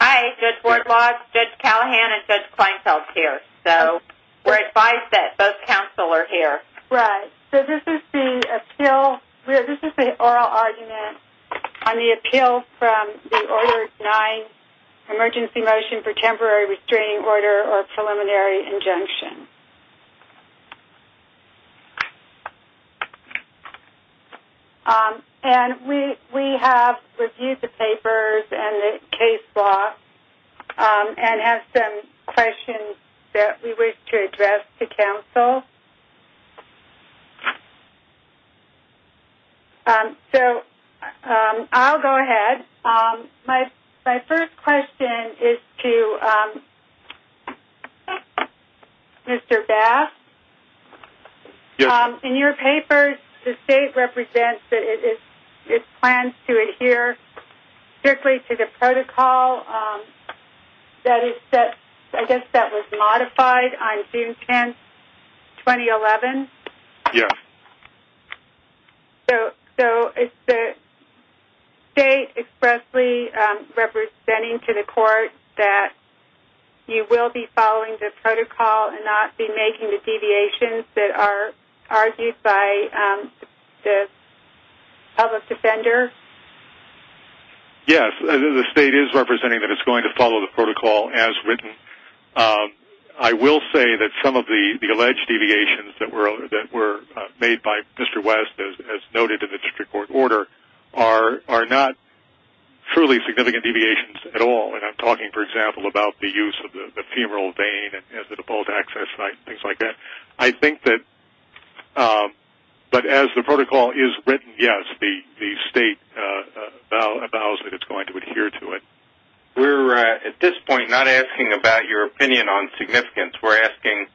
Hi, Judge Ward-Lodge, Judge Callahan, and Judge Kleinfeld here. So we're advised that both counsel are here. Right. So this is the appeal. This is the oral argument on the appeal from the Order 9, Emergency Motion for Temporary Restraining Order or Preliminary Injunction. And we have reviewed the papers and the case law and have some questions that we wish to address to counsel. So I'll go ahead. My first question is to Mr. Bass. In your papers, the state represents that it plans to adhere strictly to the protocol. I guess that was modified on June 10, 2011? Yes. So is the state expressly representing to the court that you will be following the protocol and not be making the deviations that are argued by the public defender? Yes. The state is representing that it's going to follow the protocol as written. I will say that some of the alleged deviations that were made by Mr. West, as noted in the district court order, are not truly significant deviations at all. And I'm talking, for example, about the use of the femoral vein as a default access site and things like that. But as the protocol is written, yes, the state vows that it's going to adhere to it. We're at this point not asking about your opinion on significance. We're asking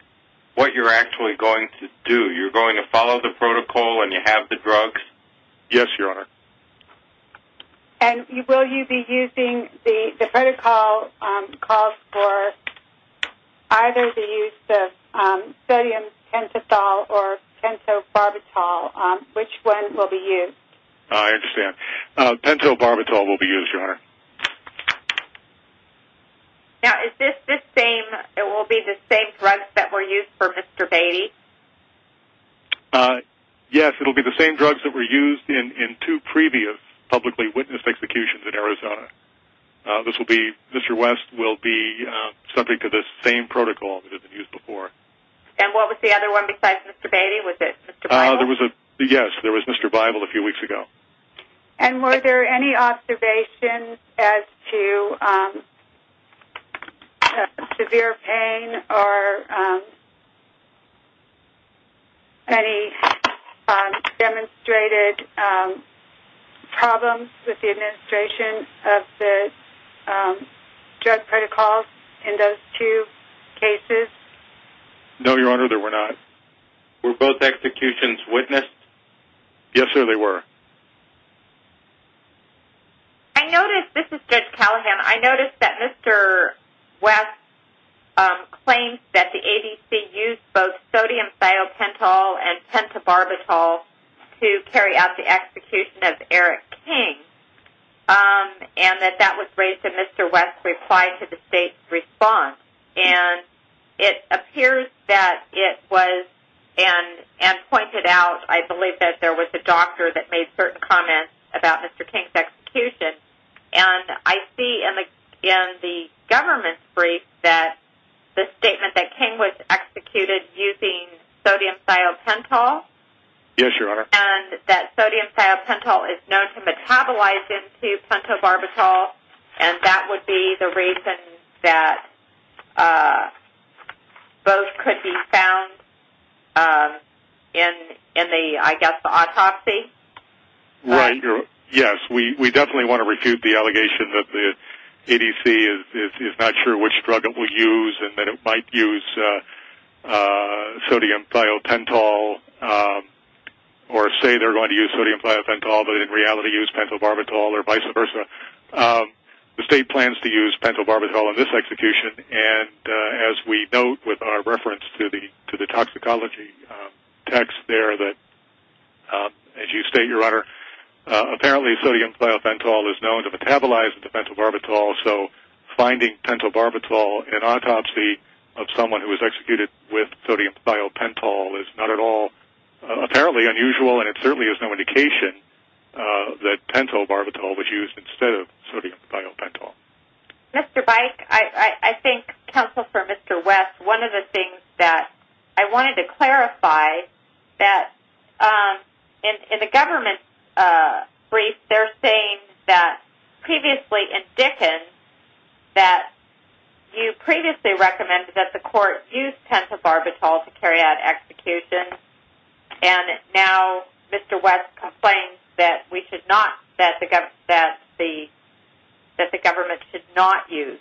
what you're actually going to do. You're going to follow the protocol and you have the drugs? Yes, Your Honor. And will you be using the protocol for either the use of sodium pentothal or pentobarbital? Which one will be used? I understand. Pentobarbital will be used, Your Honor. Now, is this the same drugs that were used for Mr. Beatty? Yes, it will be the same drugs that were used in two previous publicly witnessed executions in Arizona. Mr. West will be subject to the same protocol that has been used before. And what was the other one besides Mr. Beatty? Was it Mr. Bible? Yes, there was Mr. Bible a few weeks ago. And were there any observations as to severe pain or any demonstrated problems with the administration of the drug protocols in those two cases? No, Your Honor, there were not. Were both executions witnessed? Yes, sir, they were. I noticed, this is Judge Callahan, I noticed that Mr. West claims that the ADC used both sodium thiopentol and pentobarbital to carry out the execution of Eric King. And that that was raised in Mr. West's reply to the state's response. And it appears that it was, and pointed out, I believe that there was a doctor that made certain comments about Mr. King's execution. And I see in the government's brief that the statement that King was executed using sodium thiopentol. Yes, Your Honor. And that sodium thiopentol is known to metabolize into pentobarbital. And that would be the reason that both could be found in the, I guess, the autopsy? Right. Yes, we definitely want to refute the allegation that the ADC is not sure which drug it will use and that it might use sodium thiopentol, or say they're going to use sodium thiopentol but in reality use pentobarbital or vice versa. The state plans to use pentobarbital in this execution. And as we note with our reference to the toxicology text there that, as you state, Your Honor, apparently sodium thiopentol is known to metabolize into pentobarbital. So finding pentobarbital in an autopsy of someone who was executed with sodium thiopentol is not at all apparently unusual, and it certainly is no indication that pentobarbital was used instead of sodium thiopentol. Mr. Byke, I think Counsel for Mr. West, one of the things that I wanted to clarify, that in the government brief they're saying that previously in Dickens, that you previously recommended that the court use pentobarbital to carry out execution, and now Mr. West complains that the government should not use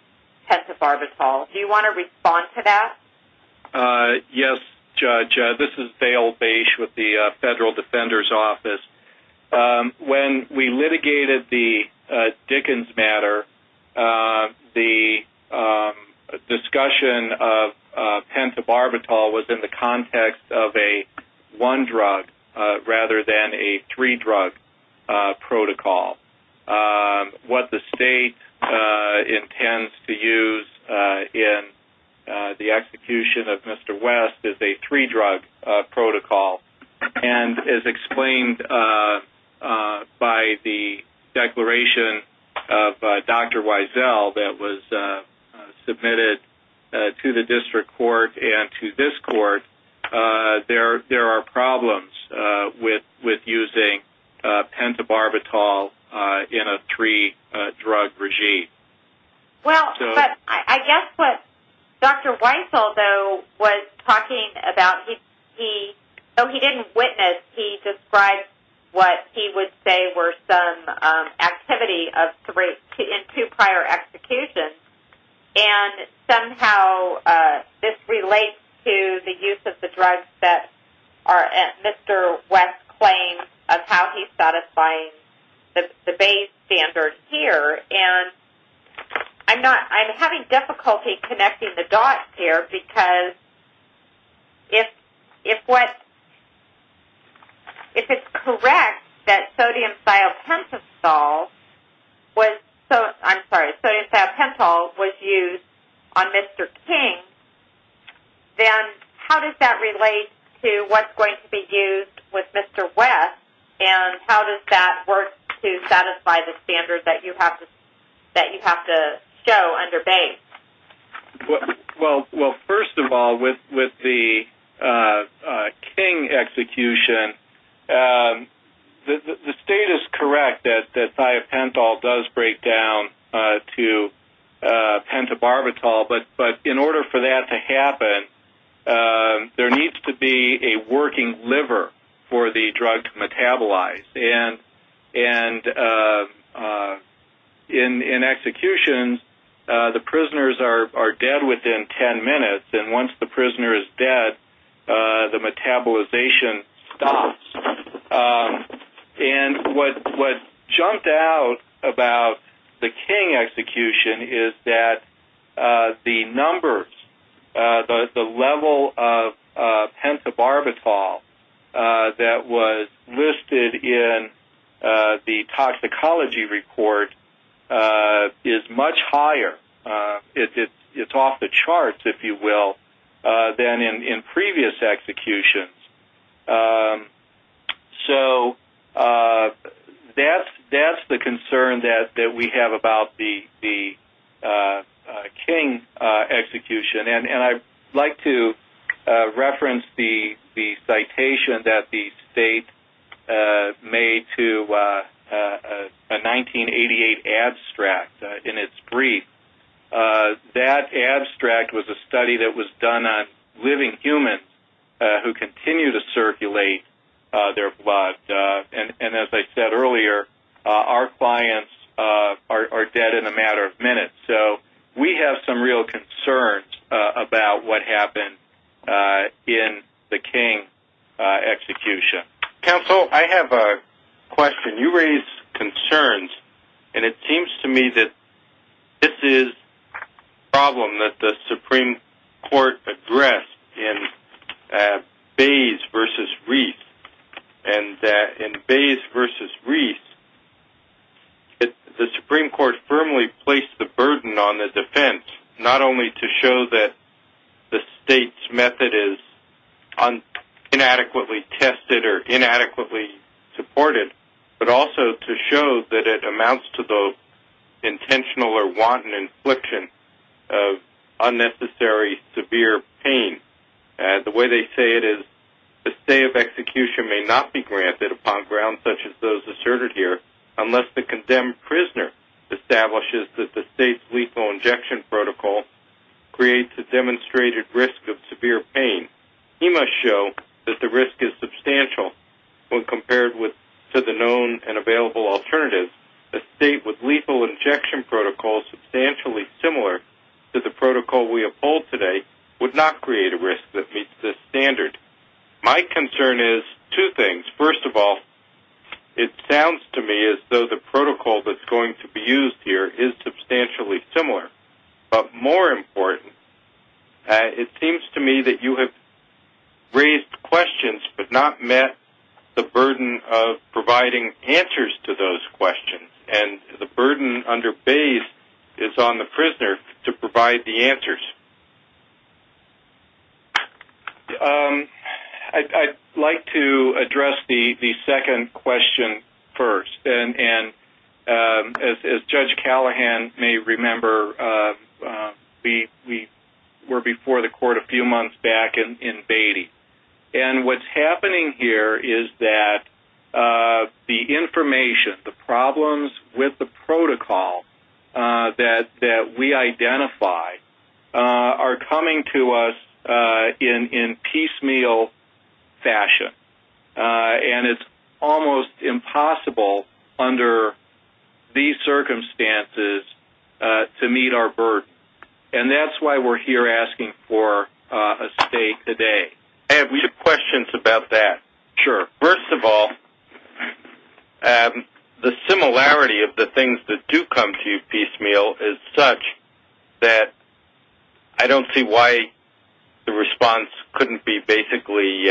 pentobarbital. Do you want to respond to that? Yes, Judge. This is Dale Bache with the Federal Defender's Office. When we litigated the Dickens matter, the discussion of pentobarbital was in the context of a one-drug rather than a three-drug protocol. What the state intends to use in the execution of Mr. West is a three-drug protocol, and as explained by the declaration of Dr. Wiesel that was submitted to the district court and to this court, there are problems with using pentobarbital in a three-drug regime. I guess what Dr. Wiesel was talking about, though he didn't witness, he described what he would say were some activity in two prior executions, and somehow this relates to the use of the drugs that Mr. West claims of how he's satisfying the Bayes standard here. I'm having difficulty connecting the dots here, because if it's correct that sodium thiopental was used on Mr. King, then how does that relate to what's going to be used with Mr. West, and how does that work to satisfy the standards that you have to show under Bayes? Well, first of all, with the King execution, the state is correct that thiopental does break down to pentobarbital, but in order for that to happen, there needs to be a working liver for the drug to metabolize, and in execution, the prisoners are dead within 10 minutes, and once the prisoner is dead, the metabolization stops. And what jumped out about the King execution is that the numbers, the level of pentobarbital that was listed in the toxicology report is much higher. It's off the charts, if you will, than in previous executions. So that's the concern that we have about the King execution, and I'd like to reference the citation that the state made to a 1988 abstract in its brief. That abstract was a study that was done on living humans who continue to circulate their blood, and as I said earlier, our clients are dead in a matter of minutes. So we have some real concerns about what happened in the King execution. Counsel, I have a question. You raised concerns, and it seems to me that this is a problem that the Supreme Court addressed in Bayes v. Reiss, and that in Bayes v. Reiss, the Supreme Court firmly placed the burden on the defense, not only to show that the state's method is inadequately tested or inadequately supported, but also to show that it amounts to the intentional or wanton infliction of unnecessary, severe pain. The way they say it is the stay of execution may not be granted upon grounds such as those asserted here unless the condemned prisoner establishes that the state's lethal injection protocol creates a demonstrated risk of severe pain. He must show that the risk is substantial when compared to the known and available alternatives. A state with lethal injection protocols substantially similar to the protocol we have polled today would not create a risk that meets this standard. My concern is two things. First of all, it sounds to me as though the protocol that's going to be used here is substantially similar, but more important, it seems to me that you have raised questions but not met the burden of providing answers to those questions, and the burden under Bayes is on the prisoner to provide the answers. I'd like to address the second question first. As Judge Callahan may remember, we were before the court a few months back in Beatty, and what's happening here is that the information, the problems with the protocol that we identify are coming to us in piecemeal fashion, and it's almost impossible under these circumstances to meet our burden, and that's why we're here asking for a state today. I have a few questions about that. Sure. First of all, the similarity of the things that do come to you piecemeal is such that I don't see why the response couldn't be basically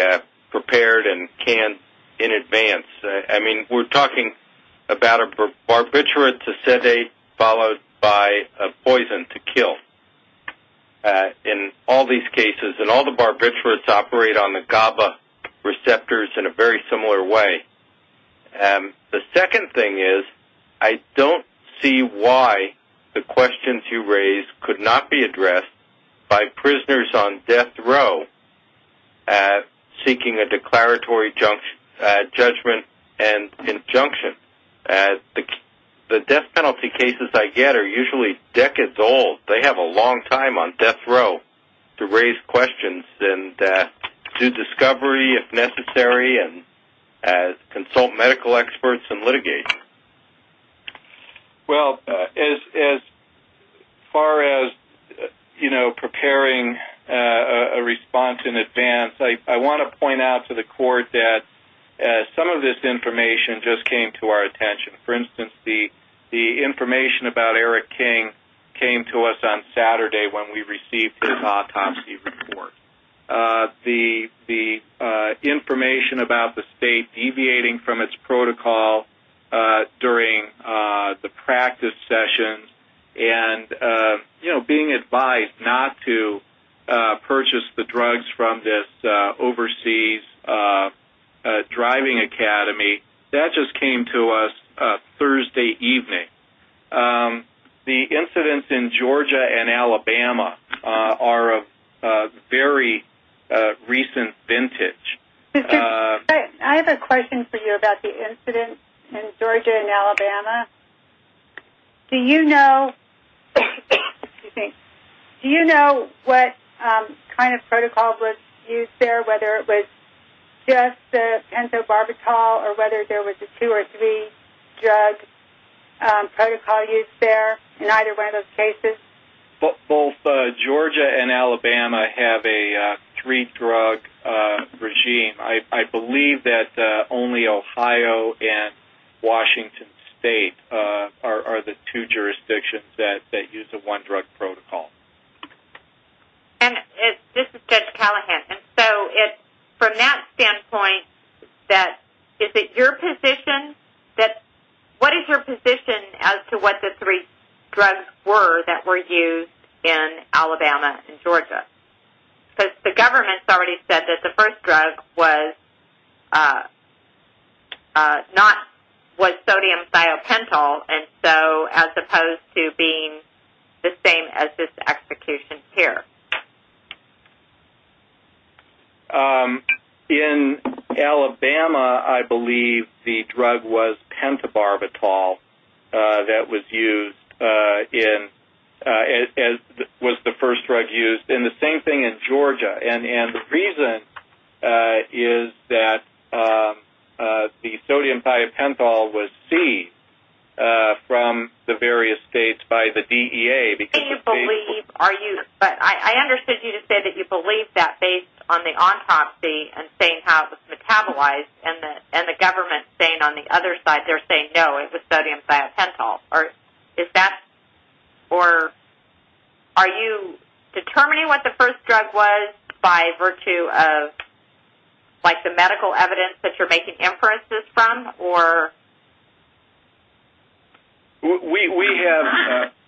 prepared and canned in advance. I mean, we're talking about a barbiturate to sedate followed by a poison to kill in all these cases, and all the barbiturates operate on the GABA receptors in a very similar way. The second thing is I don't see why the questions you raise could not be addressed by prisoners on death row seeking a declaratory judgment and injunction. The death penalty cases I get are usually decades old. They have a long time on death row to raise questions and do discovery if necessary and consult medical experts and litigate. Well, as far as, you know, preparing a response in advance, I want to point out to the court that some of this information just came to our attention. For instance, the information about Eric King came to us on Saturday when we received his autopsy report. The information about the state deviating from its protocol during the practice sessions and, you know, being advised not to purchase the drugs from this overseas driving academy, that just came to us Thursday evening. The incidents in Georgia and Alabama are of very recent vintage. I have a question for you about the incidents in Georgia and Alabama. Do you know what kind of protocol was used there, whether it was just the pentobarbital or whether there was a two- or three-drug protocol used there in either one of those cases? Both Georgia and Alabama have a three-drug regime. I believe that only Ohio and Washington State are the two jurisdictions that use a one-drug protocol. This is Judge Callahan. From that standpoint, what is your position as to what the three drugs were that were used in Alabama and Georgia? Because the government has already said that the first drug was sodium thiopental, and so as opposed to being the same as this execution here. In Alabama, I believe the drug was pentobarbital that was used in as was the first drug used. It's been the same thing in Georgia, and the reason is that the sodium thiopental was seized from the various states by the DEA. I understood you to say that you believe that based on the autopsy and saying how it was metabolized, and the government saying on the other side they're saying, no, it was sodium thiopental. Are you determining what the first drug was by virtue of the medical evidence that you're making inferences from?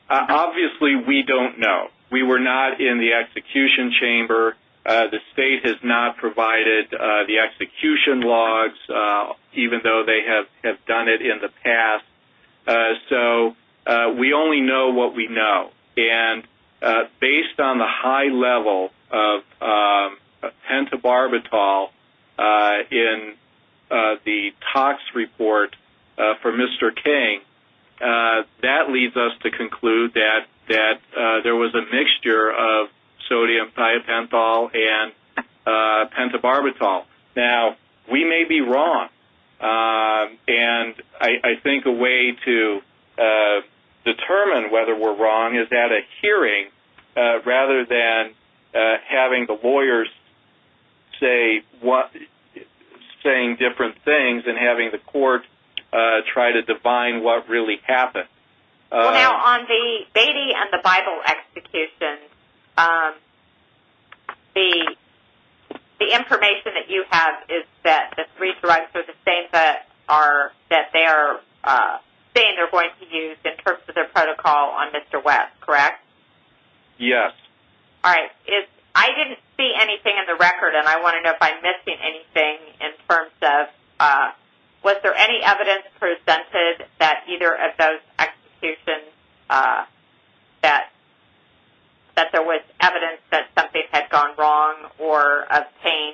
Obviously, we don't know. We were not in the execution chamber. The state has not provided the execution logs, even though they have done it in the past. So we only know what we know, and based on the high level of pentobarbital in the tox report for Mr. King, that leads us to conclude that there was a mixture of sodium thiopental and pentobarbital. Now, we may be wrong, and I think a way to determine whether we're wrong is at a hearing rather than having the lawyers saying different things and having the court try to define what really happened. Now, on the Beatty and the Bible execution, the information that you have is that the three drugs are the same that they're saying they're going to use in terms of their protocol on Mr. West, correct? Yes. All right. I didn't see anything in the record, and I want to know if I'm missing anything in terms of was there any evidence presented that either of those executions that there was evidence that something had gone wrong or of pain?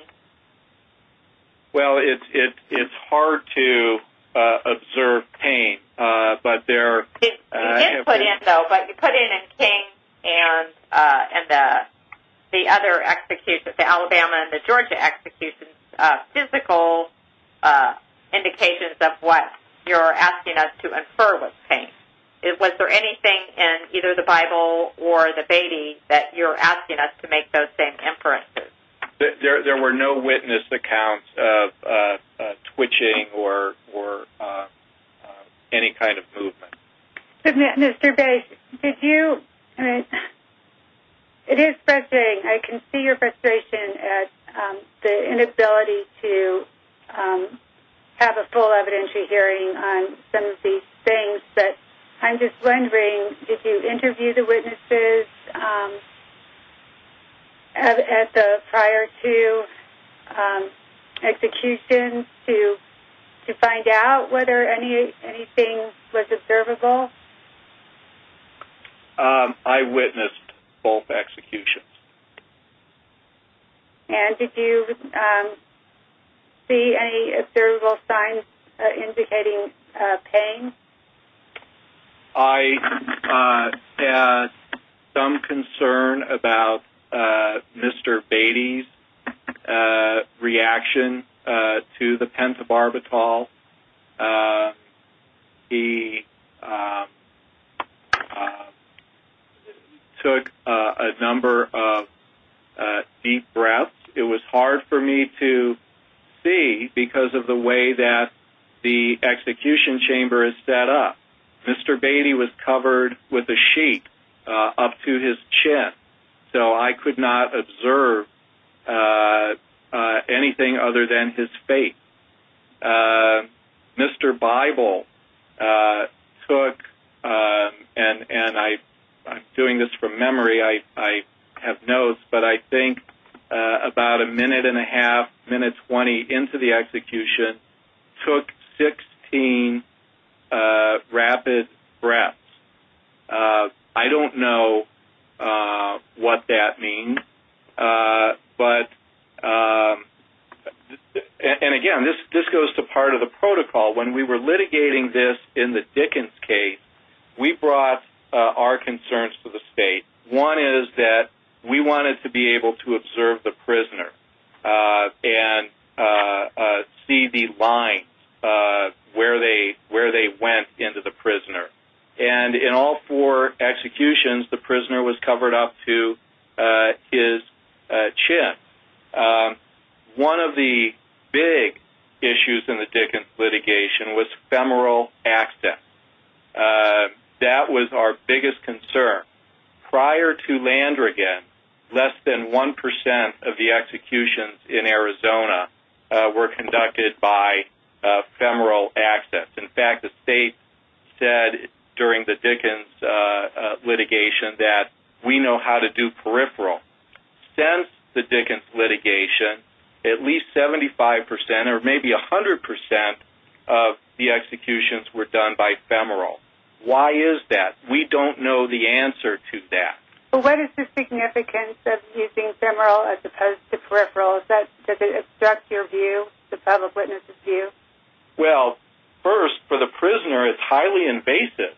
Well, it's hard to observe pain, but there- You did put in, though, but you put in in King and the other executions, the Alabama and the Georgia executions, physical indications of what you're asking us to infer was pain. Was there anything in either the Bible or the Beatty that you're asking us to make those same inferences? There were no witness accounts of twitching or any kind of movement. Mr. Bass, did you- It is frustrating. I can see your frustration at the inability to have a full evidentiary hearing on some of these things, but I'm just wondering, did you interview the witnesses at the prior two executions to find out whether anything was observable? I witnessed both executions. And did you see any observable signs indicating pain? I had some concern about Mr. Beatty's reaction to the pentobarbital. He took a number of deep breaths. It was hard for me to see because of the way that the execution chamber is set up. Mr. Beatty was covered with a sheet up to his chin, so I could not observe anything other than his face. Mr. Bible took, and I'm doing this from memory, I have notes, but I think about a minute and a half, minute 20 into the execution, took 16 rapid breaths. I don't know what that means, but- And again, this goes to part of the protocol. When we were litigating this in the Dickens case, we brought our concerns to the state. One is that we wanted to be able to observe the prisoner and see the lines where they went into the prisoner. And in all four executions, the prisoner was covered up to his chin. One of the big issues in the Dickens litigation was femoral access. That was our biggest concern. Prior to Landrigan, less than 1% of the executions in Arizona were conducted by femoral access. In fact, the state said during the Dickens litigation that we know how to do peripheral. Since the Dickens litigation, at least 75% or maybe 100% of the executions were done by femoral. Why is that? We don't know the answer to that. What is the significance of using femoral as opposed to peripheral? Does it obstruct your view, the public witness's view? Well, first, for the prisoner, it's highly invasive.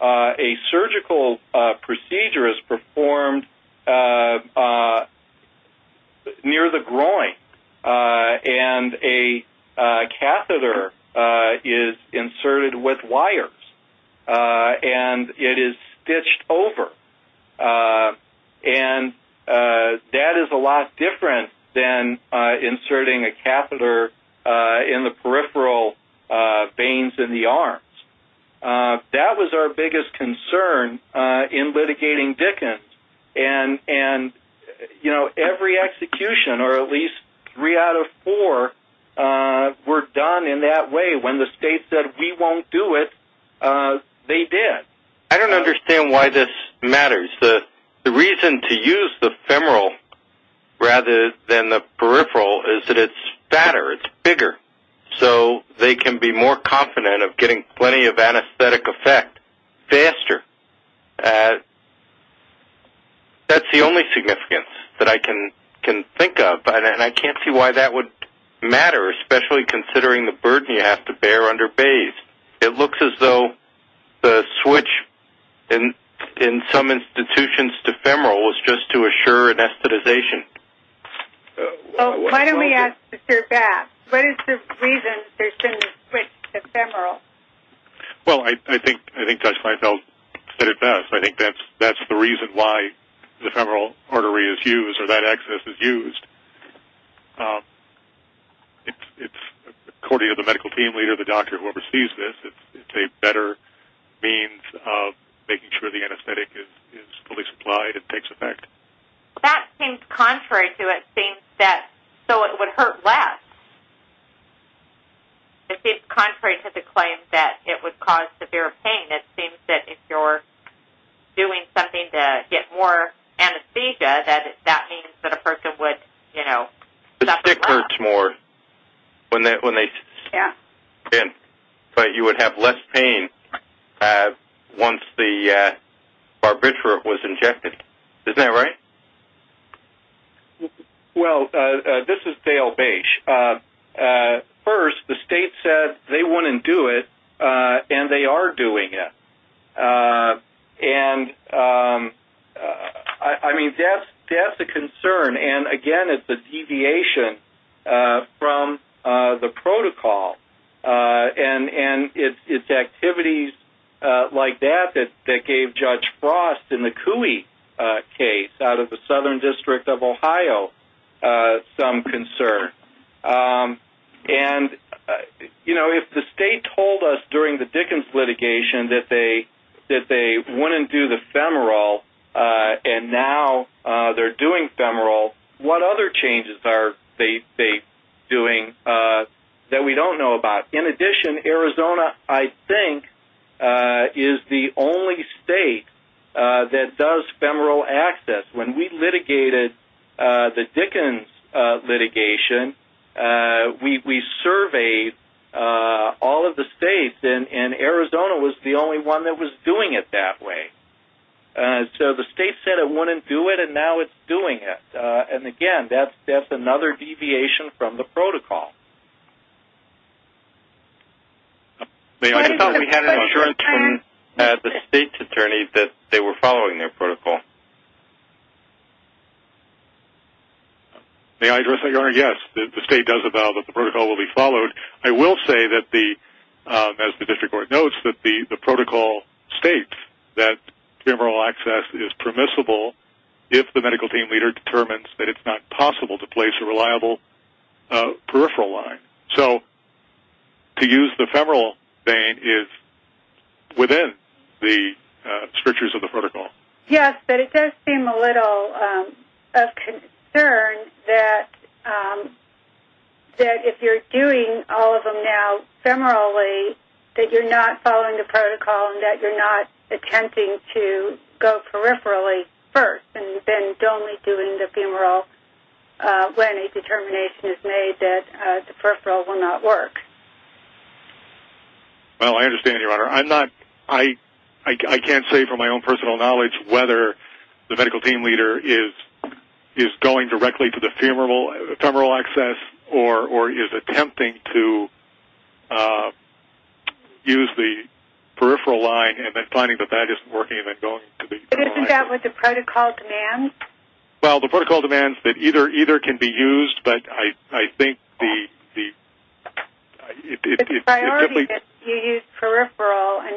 A surgical procedure is performed near the groin. And a catheter is inserted with wires. And it is stitched over. And that is a lot different than inserting a catheter in the peripheral veins in the arms. That was our biggest concern in litigating Dickens. And every execution, or at least three out of four, were done in that way. When the state said, we won't do it, they did. I don't understand why this matters. The reason to use the femoral rather than the peripheral is that it's fatter, it's bigger. So they can be more confident of getting plenty of anesthetic effect faster. That's the only significance that I can think of. And I can't see why that would matter, especially considering the burden you have to bear under bays. It looks as though the switch in some institutions to femoral was just to assure anesthetization. Why don't we ask Dr. Bass? What is the reason there's been a switch to femoral? Well, I think Dr. Feinfeld said it best. I think that's the reason why the femoral artery is used or that access is used. According to the medical team leader, the doctor, whoever sees this, it's a better means of making sure the anesthetic is fully supplied and takes effect. That seems contrary to it, so it would hurt less. It seems contrary to the claim that it would cause severe pain. It seems that if you're doing something to get more anesthesia, that means that a person would suffer less. The stick hurts more when they spin, but you would have less pain once the barbiturate was injected. Isn't that right? Well, this is Dale Baysh. First, the state said they wouldn't do it, and they are doing it. I mean, that's a concern, and, again, it's a deviation from the protocol. It's activities like that that gave Judge Frost in the Cooey case out of the Southern District of Ohio some concern. If the state told us during the Dickens litigation that they wouldn't do the femoral and now they're doing femoral, what other changes are they doing that we don't know about? In addition, Arizona, I think, is the only state that does femoral access. When we litigated the Dickens litigation, we surveyed all of the states, and Arizona was the only one that was doing it that way. So the state said it wouldn't do it, and now it's doing it. And, again, that's another deviation from the protocol. We had an assurance from the state's attorney that they were following their protocol. May I address that, Your Honor? Yes, the state does avow that the protocol will be followed. I will say, as the district court notes, that the protocol states that femoral access is permissible if the medical team leader determines that it's not possible to place a reliable peripheral line. So to use the femoral vein is within the strictures of the protocol. Yes, but it does seem a little of concern that if you're doing all of them now femorally, that you're not following the protocol and that you're not attempting to go peripherally first and then only doing the femoral when a determination is made that the peripheral will not work. I'm not sure. I can't say from my own personal knowledge whether the medical team leader is going directly to the femoral access or is attempting to use the peripheral line and then finding that that isn't working and then going to the peripheral line. Isn't that what the protocol demands? Well, the protocol demands that either can be used, but I think the... It's a priority that you use peripheral, and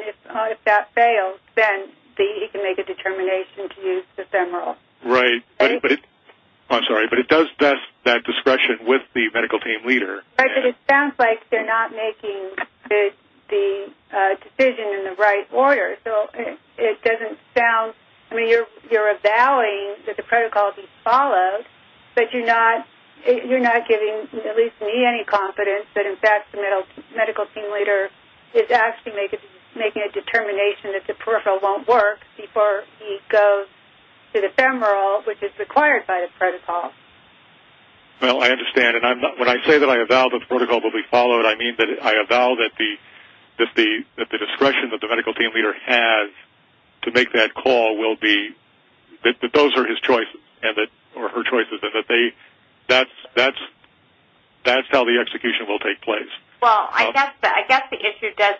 if that fails, then you can make a determination to use the femoral. Right. I'm sorry, but it does test that discretion with the medical team leader. Right, but it sounds like they're not making the decision in the right order. So it doesn't sound, I mean, you're avowing that the protocol be followed, but you're not giving at least me any confidence that, in fact, the medical team leader is actually making a determination that the peripheral won't work before he goes to the femoral, which is required by the protocol. Well, I understand, and when I say that I avow that the protocol will be followed, I mean that I avow that the discretion that the medical team leader has to make that call will be... or her choice is that they... That's how the execution will take place. Well, I guess the issue does...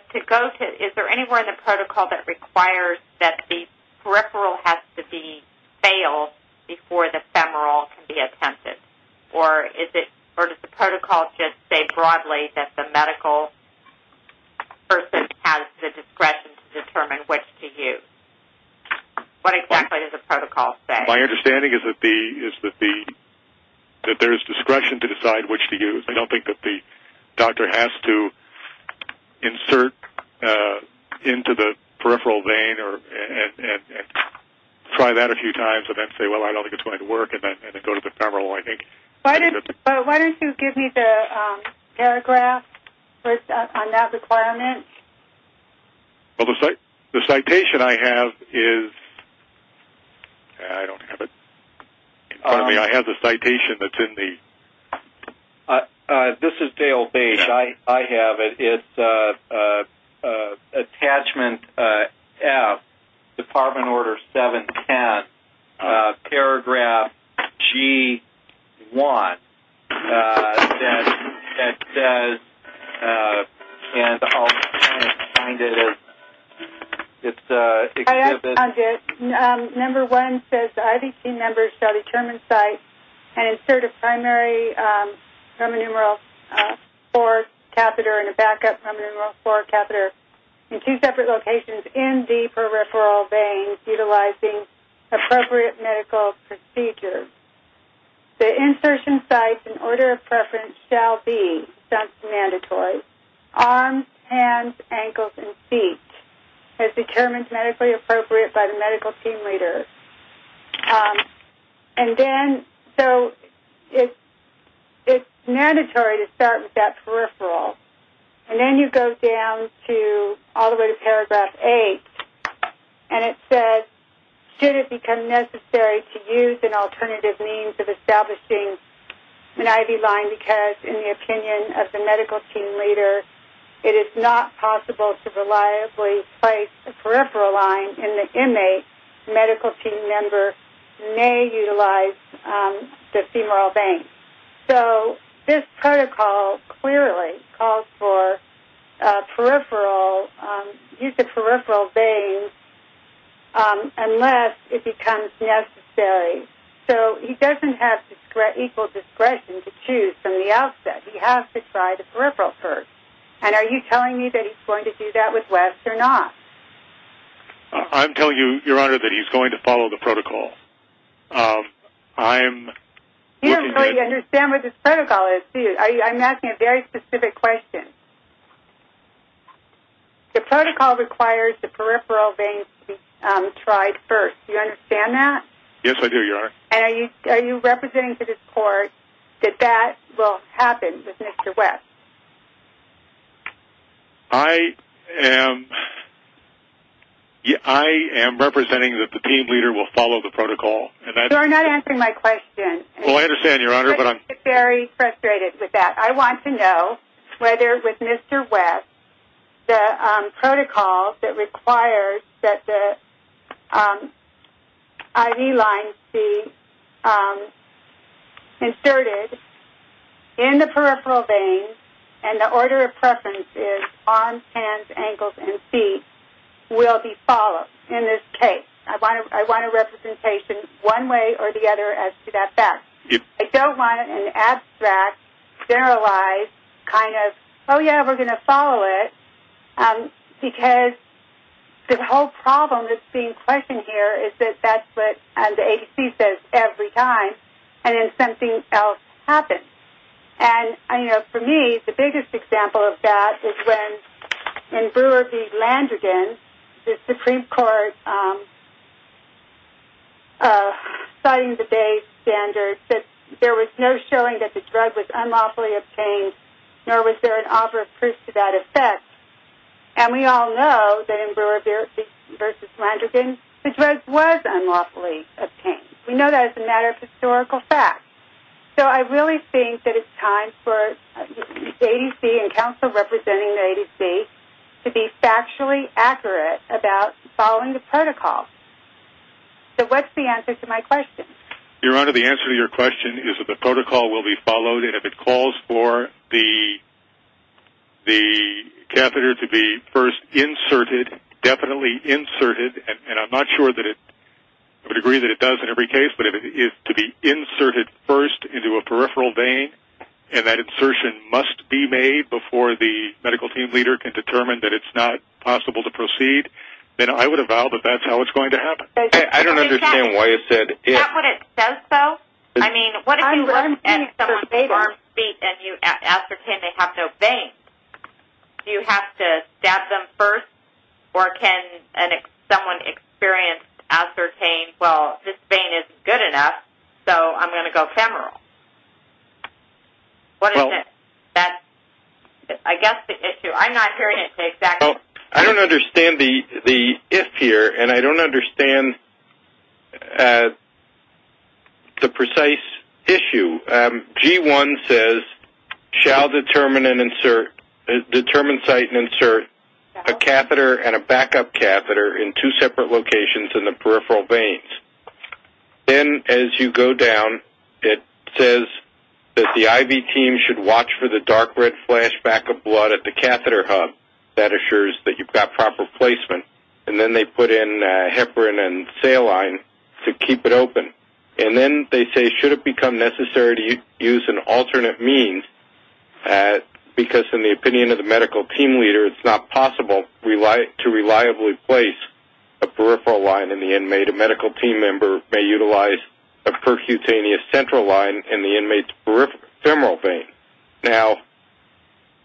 Is there anywhere in the protocol that requires that the peripheral has to be failed before the femoral can be attempted? Or does the protocol just say broadly that the medical person has the discretion to determine which to use? What exactly does the protocol say? My understanding is that there is discretion to decide which to use. I don't think that the doctor has to insert into the peripheral vein and try that a few times and then say, well, I don't think it's going to work, and then go to the femoral. Why don't you give me the paragraph on that requirement? Well, the citation I have is... I don't have it. Pardon me. I have the citation that's in the... This is Dale Bates. I have it. It's Attachment F, Department Order 710, Paragraph G1 that says... And I'll try to find it. It's Exhibit... and a backup femoral floor catheter in two separate locations in the peripheral vein utilizing appropriate medical procedures. The insertion sites, in order of preference, shall be, since mandatory, arms, hands, ankles, and feet, as determined medically appropriate by the medical team leader. And then, so it's mandatory to start with that peripheral. And then you go down to all the way to Paragraph 8, and it says, should it become necessary to use an alternative means of establishing an IV line because, in the opinion of the medical team leader, it is not possible to reliably place a peripheral line in the inmate, the medical team member may utilize the femoral vein. So this protocol clearly calls for peripheral, use of peripheral veins unless it becomes necessary. So he doesn't have equal discretion to choose from the outset. He has to try the peripheral first. And are you telling me that he's going to do that with Wes or not? I'm telling you, Your Honor, that he's going to follow the protocol. I'm looking at... You don't really understand what this protocol is, do you? I'm asking a very specific question. The protocol requires the peripheral veins to be tried first. Do you understand that? Yes, I do, Your Honor. And are you representing to this court that that will happen with Mr. Wes? I am representing that the team leader will follow the protocol. You are not answering my question. Well, I understand, Your Honor, but I'm... I'm very frustrated with that. I want to know whether, with Mr. Wes, the protocol that requires that the IV lines be inserted in the peripheral vein and the order of preference is arms, hands, ankles, and feet will be followed in this case. I want a representation one way or the other as to that fact. I don't want an abstract, generalized kind of, oh, yeah, we're going to follow it, because the whole problem that's being questioned here is that that's what the agency says every time and then something else happens. And, you know, for me, the biggest example of that is when, in Brewer v. Landrigan, the Supreme Court, citing the base standards, said there was no showing that the drug was unlawfully obtained, nor was there an operative proof to that effect. And we all know that in Brewer v. Landrigan, the drug was unlawfully obtained. We know that as a matter of historical fact. So I really think that it's time for the agency and counsel representing the agency to be factually accurate about following the protocol. So what's the answer to my question? Your Honor, the answer to your question is that the protocol will be followed, and if it calls for the catheter to be first inserted, definitely inserted, and I'm not sure to the degree that it does in every case, but if it is to be inserted first into a peripheral vein and that insertion must be made before the medical team leader can determine that it's not possible to proceed, then I would have vowed that that's how it's going to happen. I don't understand why it said if. Is that what it says, though? I mean, what if you look at someone's arm, feet, and you ascertain they have no veins? Do you have to stab them first? Or can someone experienced ascertain, well, this vein isn't good enough, so I'm going to go femoral? What is it? I guess the issue, I'm not hearing it exactly. I don't understand the if here, and I don't understand the precise issue. So G1 says, shall determine, cite, and insert a catheter and a backup catheter in two separate locations in the peripheral veins. Then as you go down, it says that the IV team should watch for the dark red flashback of blood at the catheter hub. That assures that you've got proper placement. And then they put in heparin and saline to keep it open. And then they say, should it become necessary to use an alternate means, because in the opinion of the medical team leader, it's not possible to reliably place a peripheral line in the inmate. A medical team member may utilize a percutaneous central line in the inmate's femoral vein. Now,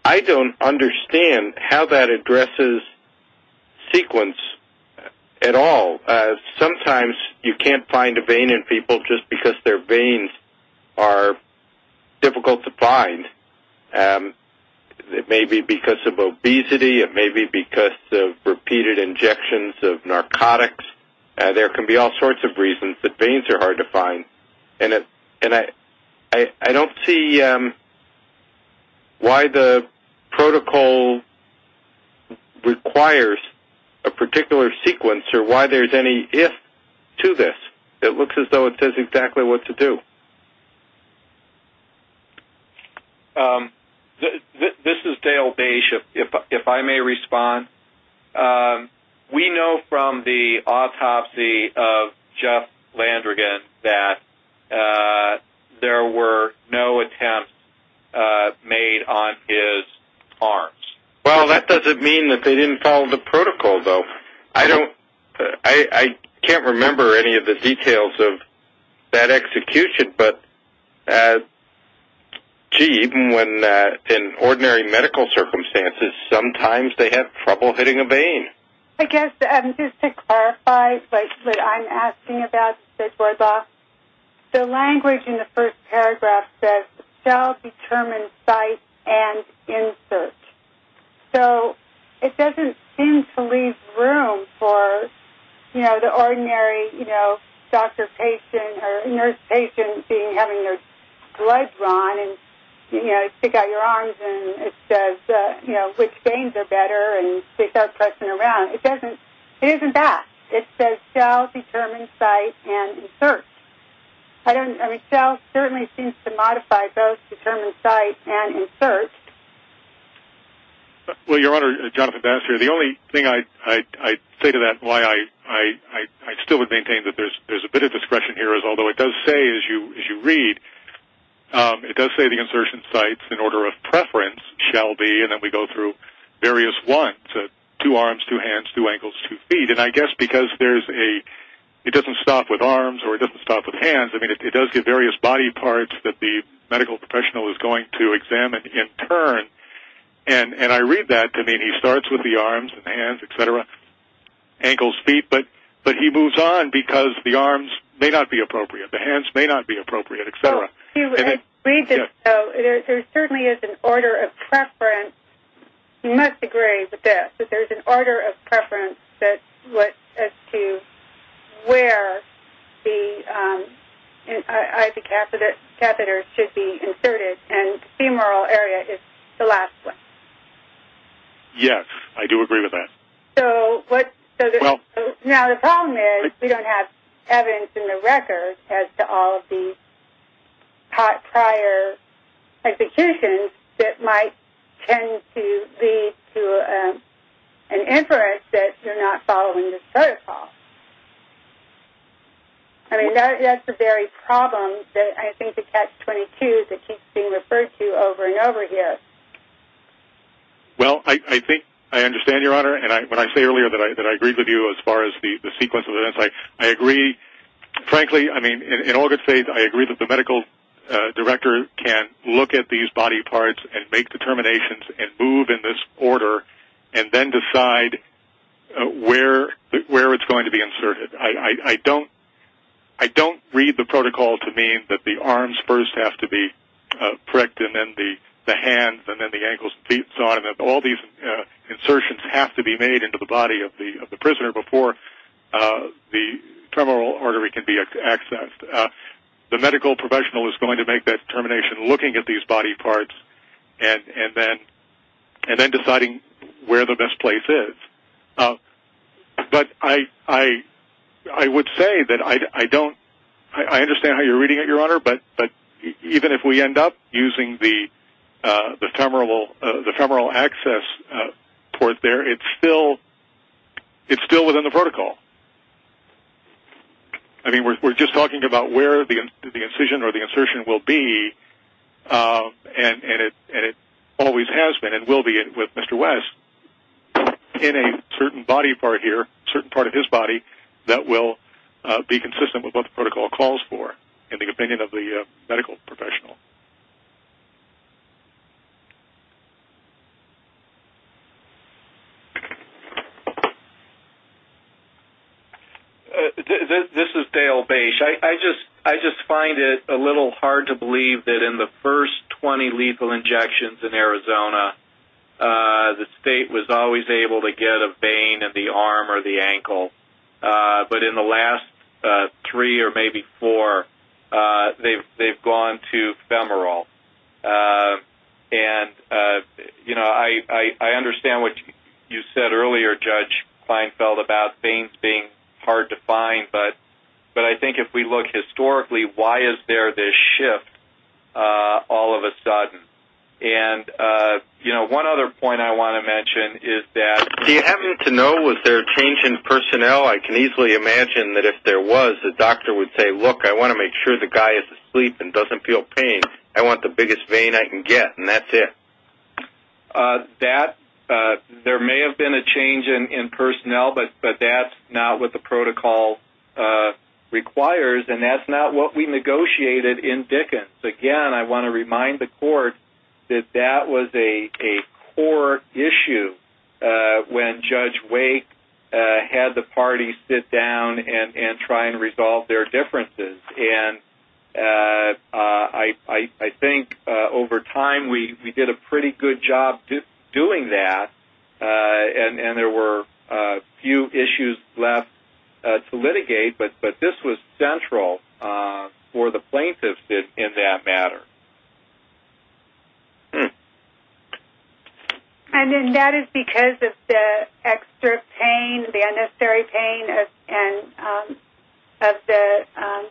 I don't understand how that addresses sequence at all. Sometimes you can't find a vein in people just because their veins are difficult to find. It may be because of obesity. It may be because of repeated injections of narcotics. There can be all sorts of reasons that veins are hard to find. And I don't see why the protocol requires a particular sequence or why there's any if to this. It looks as though it says exactly what to do. This is Dale Beish, if I may respond. We know from the autopsy of Jeff Landrigan that there were no attempts made on his arms. Well, that doesn't mean that they didn't follow the protocol, though. I can't remember any of the details of that execution. But, gee, even when in ordinary medical circumstances, sometimes they have trouble hitting a vein. I guess just to clarify what I'm asking about, Mr. Dworak, the language in the first paragraph says, shall determine site and insert. So it doesn't seem to leave room for, you know, the ordinary, you know, doctor patient or nurse patient having their blood run and, you know, take out your arms and it says, you know, which veins are better and they start pressing around. It doesn't. It isn't that. It says shall determine site and insert. Shall certainly seems to modify both determine site and insert. Well, Your Honor, Jonathan Bass here. The only thing I'd say to that, why I still would maintain that there's a bit of discretion here, is although it does say, as you read, it does say the insertion sites in order of preference shall be, and then we go through various ones, two arms, two hands, two ankles, two feet. And I guess because there's a, it doesn't stop with arms or it doesn't stop with hands. I mean, it does give various body parts that the medical professional is going to examine in turn. And I read that to mean he starts with the arms and the hands, et cetera, ankles, feet, but he moves on because the arms may not be appropriate. The hands may not be appropriate, et cetera. You must agree with this, that there's an order of preference as to where the catheters should be inserted, and femoral area is the last one. Yes, I do agree with that. Now, the problem is we don't have evidence in the record as to all of the prior executions that might tend to lead to an inference that you're not following this protocol. I mean, that's the very problem that I think the catch-22 that keeps being referred to over and over again. Well, I think I understand, Your Honor. And when I say earlier that I agree with you as far as the sequence of events, I agree. Frankly, I mean, in all good faith, I agree that the medical director can look at these body parts and make determinations and move in this order and then decide where it's going to be inserted. I don't read the protocol to mean that the arms first have to be pricked and then the hands and then the ankles and feet and so on, and that all these insertions have to be made into the body of the prisoner before the femoral artery can be accessed. The medical professional is going to make that determination looking at these body parts and then deciding where the best place is. But I would say that I don't – I understand how you're reading it, Your Honor, but even if we end up using the femoral access port there, it's still within the protocol. I mean, we're just talking about where the incision or the insertion will be, and it always has been and will be with Mr. West in a certain body part here, a certain part of his body that will be consistent with what the protocol calls for in the opinion of the medical professional. This is Dale Bache. I just find it a little hard to believe that in the first 20 lethal injections in Arizona, the state was always able to get a vein in the arm or the ankle, but in the last three or maybe four, they've gone to femoral. I understand what you said earlier, Judge Kleinfeld, about veins being hard to find, but I think if we look historically, why is there this shift all of a sudden? And, you know, one other point I want to mention is that – Do you happen to know, was there a change in personnel? I can easily imagine that if there was, the doctor would say, look, I want to make sure the guy is asleep and doesn't feel pain. I want the biggest vein I can get, and that's it. There may have been a change in personnel, but that's not what the protocol requires, and that's not what we negotiated in Dickens. Again, I want to remind the court that that was a core issue when Judge Wake had the party sit down and try and resolve their differences. And I think over time we did a pretty good job doing that, and there were a few issues left to litigate, but this was central for the plaintiffs in that matter. And then that is because of the extra pain, the unnecessary pain of the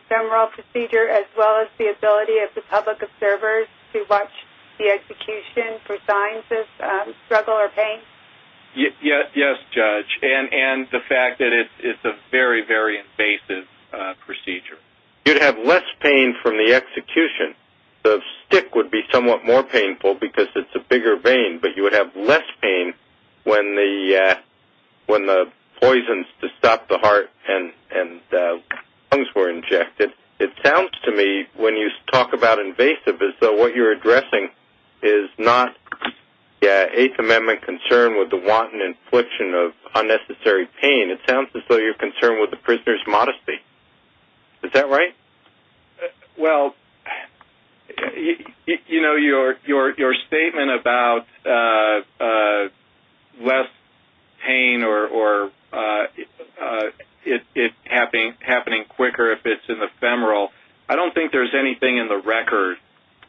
femoral procedure, as well as the ability of the public observers to watch the execution for signs of struggle or pain? Yes, Judge, and the fact that it's a very, very invasive procedure. You'd have less pain from the execution. The stick would be somewhat more painful because it's a bigger vein, but you would have less pain when the poisons to stop the heart and lungs were injected. It sounds to me, when you talk about invasive, as though what you're addressing is not the Eighth Amendment concern with the wanton infliction of unnecessary pain. It sounds as though you're concerned with the prisoner's modesty. Is that right? Well, you know, your statement about less pain or it happening quicker if it's in the femoral, I don't think there's anything in the record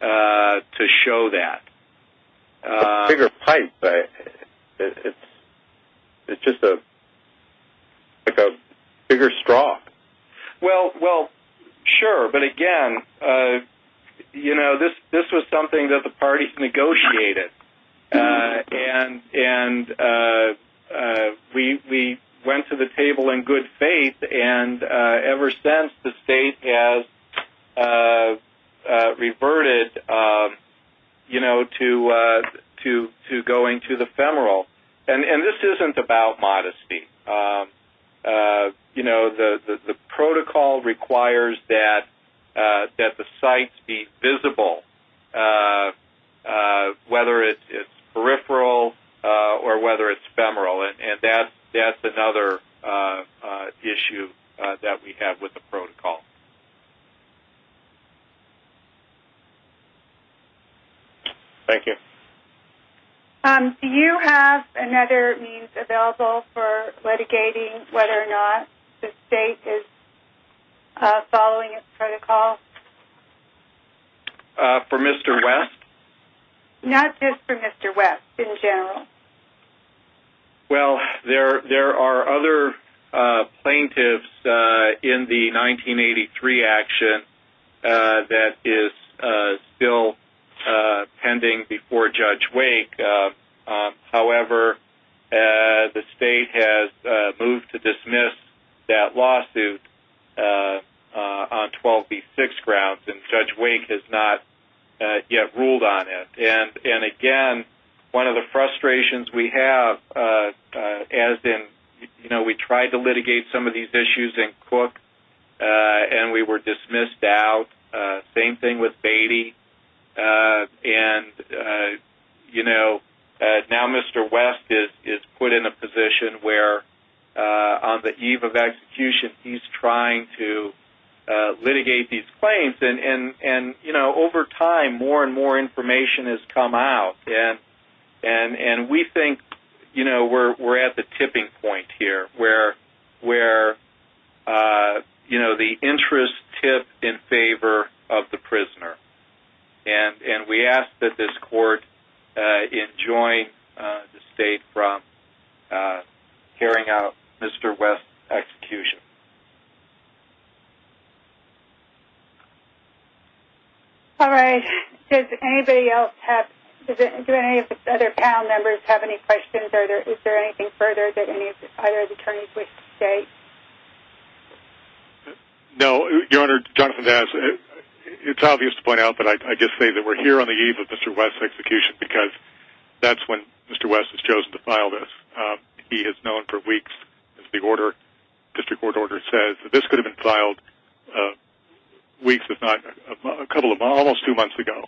to show that. It's a bigger pipe. It's just like a bigger straw. Well, sure, but again, you know, this was something that the parties negotiated, and we went to the table in good faith, and ever since the state has reverted to going to the femoral. And this isn't about modesty. You know, the protocol requires that the sites be visible, whether it's peripheral or whether it's femoral, and that's another issue that we have with the protocol. Thank you. Do you have another means available for litigating whether or not the state is following its protocol? For Mr. West? Not just for Mr. West, in general. Well, there are other plaintiffs in the 1983 action that is still pending before Judge Wake. However, the state has moved to dismiss that lawsuit on 12B6 grounds, and Judge Wake has not yet ruled on it. And, again, one of the frustrations we have, as in, you know, we tried to litigate some of these issues in Cook, and we were dismissed out. Same thing with Beatty. And, you know, now Mr. West is put in a position where on the eve of execution, he's trying to litigate these claims. And, you know, over time, more and more information has come out, and we think, you know, we're at the tipping point here where, you know, the interests tip in favor of the prisoner. And we ask that this court enjoin the state from carrying out Mr. West's execution. All right. Does anybody else have any other panel members have any questions? Is there anything further that either of the attorneys wish to state? No. Your Honor, it's obvious to point out, but I just say that we're here on the eve of Mr. West's execution because that's when Mr. West has chosen to file this. He has known for weeks, as the district court order says, that this could have been filed weeks, if not a couple of months, almost two months ago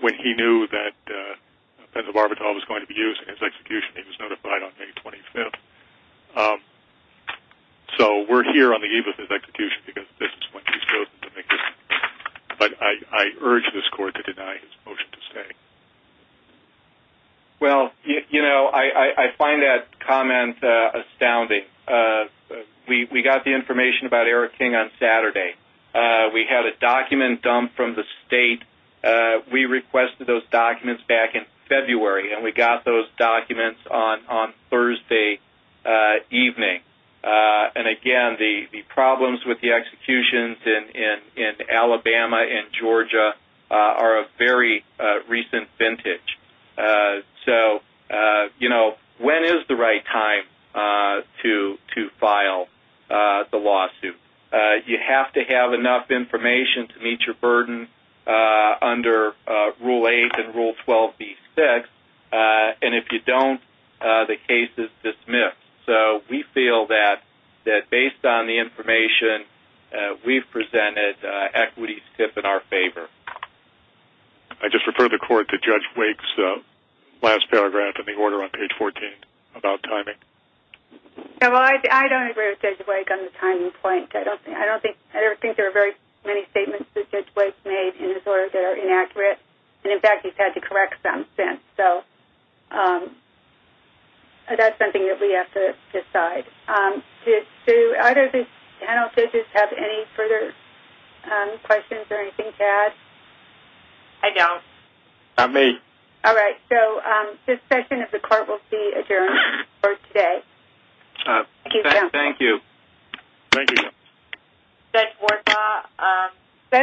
when he knew that the barbital was going to be used in his execution. He was notified on May 25th. So we're here on the eve of his execution because this is when he's chosen to make his. But I urge this court to deny his motion to stay. Well, you know, I find that comment astounding. We got the information about Eric King on Saturday. We had a document dumped from the state. We requested those documents back in February, and we got those documents on Thursday evening. And, again, the problems with the executions in Alabama and Georgia are a very recent vintage. So, you know, when is the right time to file the lawsuit? You have to have enough information to meet your burden under Rule 8 and Rule 12B-6, and if you don't, the case is dismissed. So we feel that, based on the information we've presented, equity is tip in our favor. I just refer the court to Judge Wake's last paragraph in the order on page 14 about timing. I don't agree with Judge Wake on the timing point. I don't think there are very many statements that Judge Wake made in his order that are inaccurate. And, in fact, he's had to correct some since. So that's something that we have to decide. Do either of these panelists have any further questions or anything to add? I don't. Not me. All right. So this session of the court will be adjourned for today. Thank you. Thank you. Thank you. Judge Warnbaugh,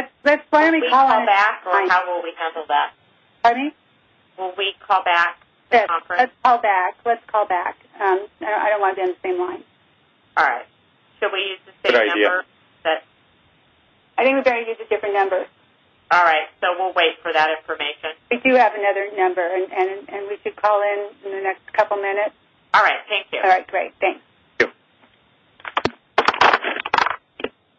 will we call back or how will we handle that? Pardon me? Will we call back the conference? Let's call back. I don't want to be on the same line. All right. Should we use the same number? Good idea. I think we better use a different number. All right. So we'll wait for that information. We do have another number, and we should call in in the next couple minutes. All right. Thank you. All right. Great. Thanks. Thank you.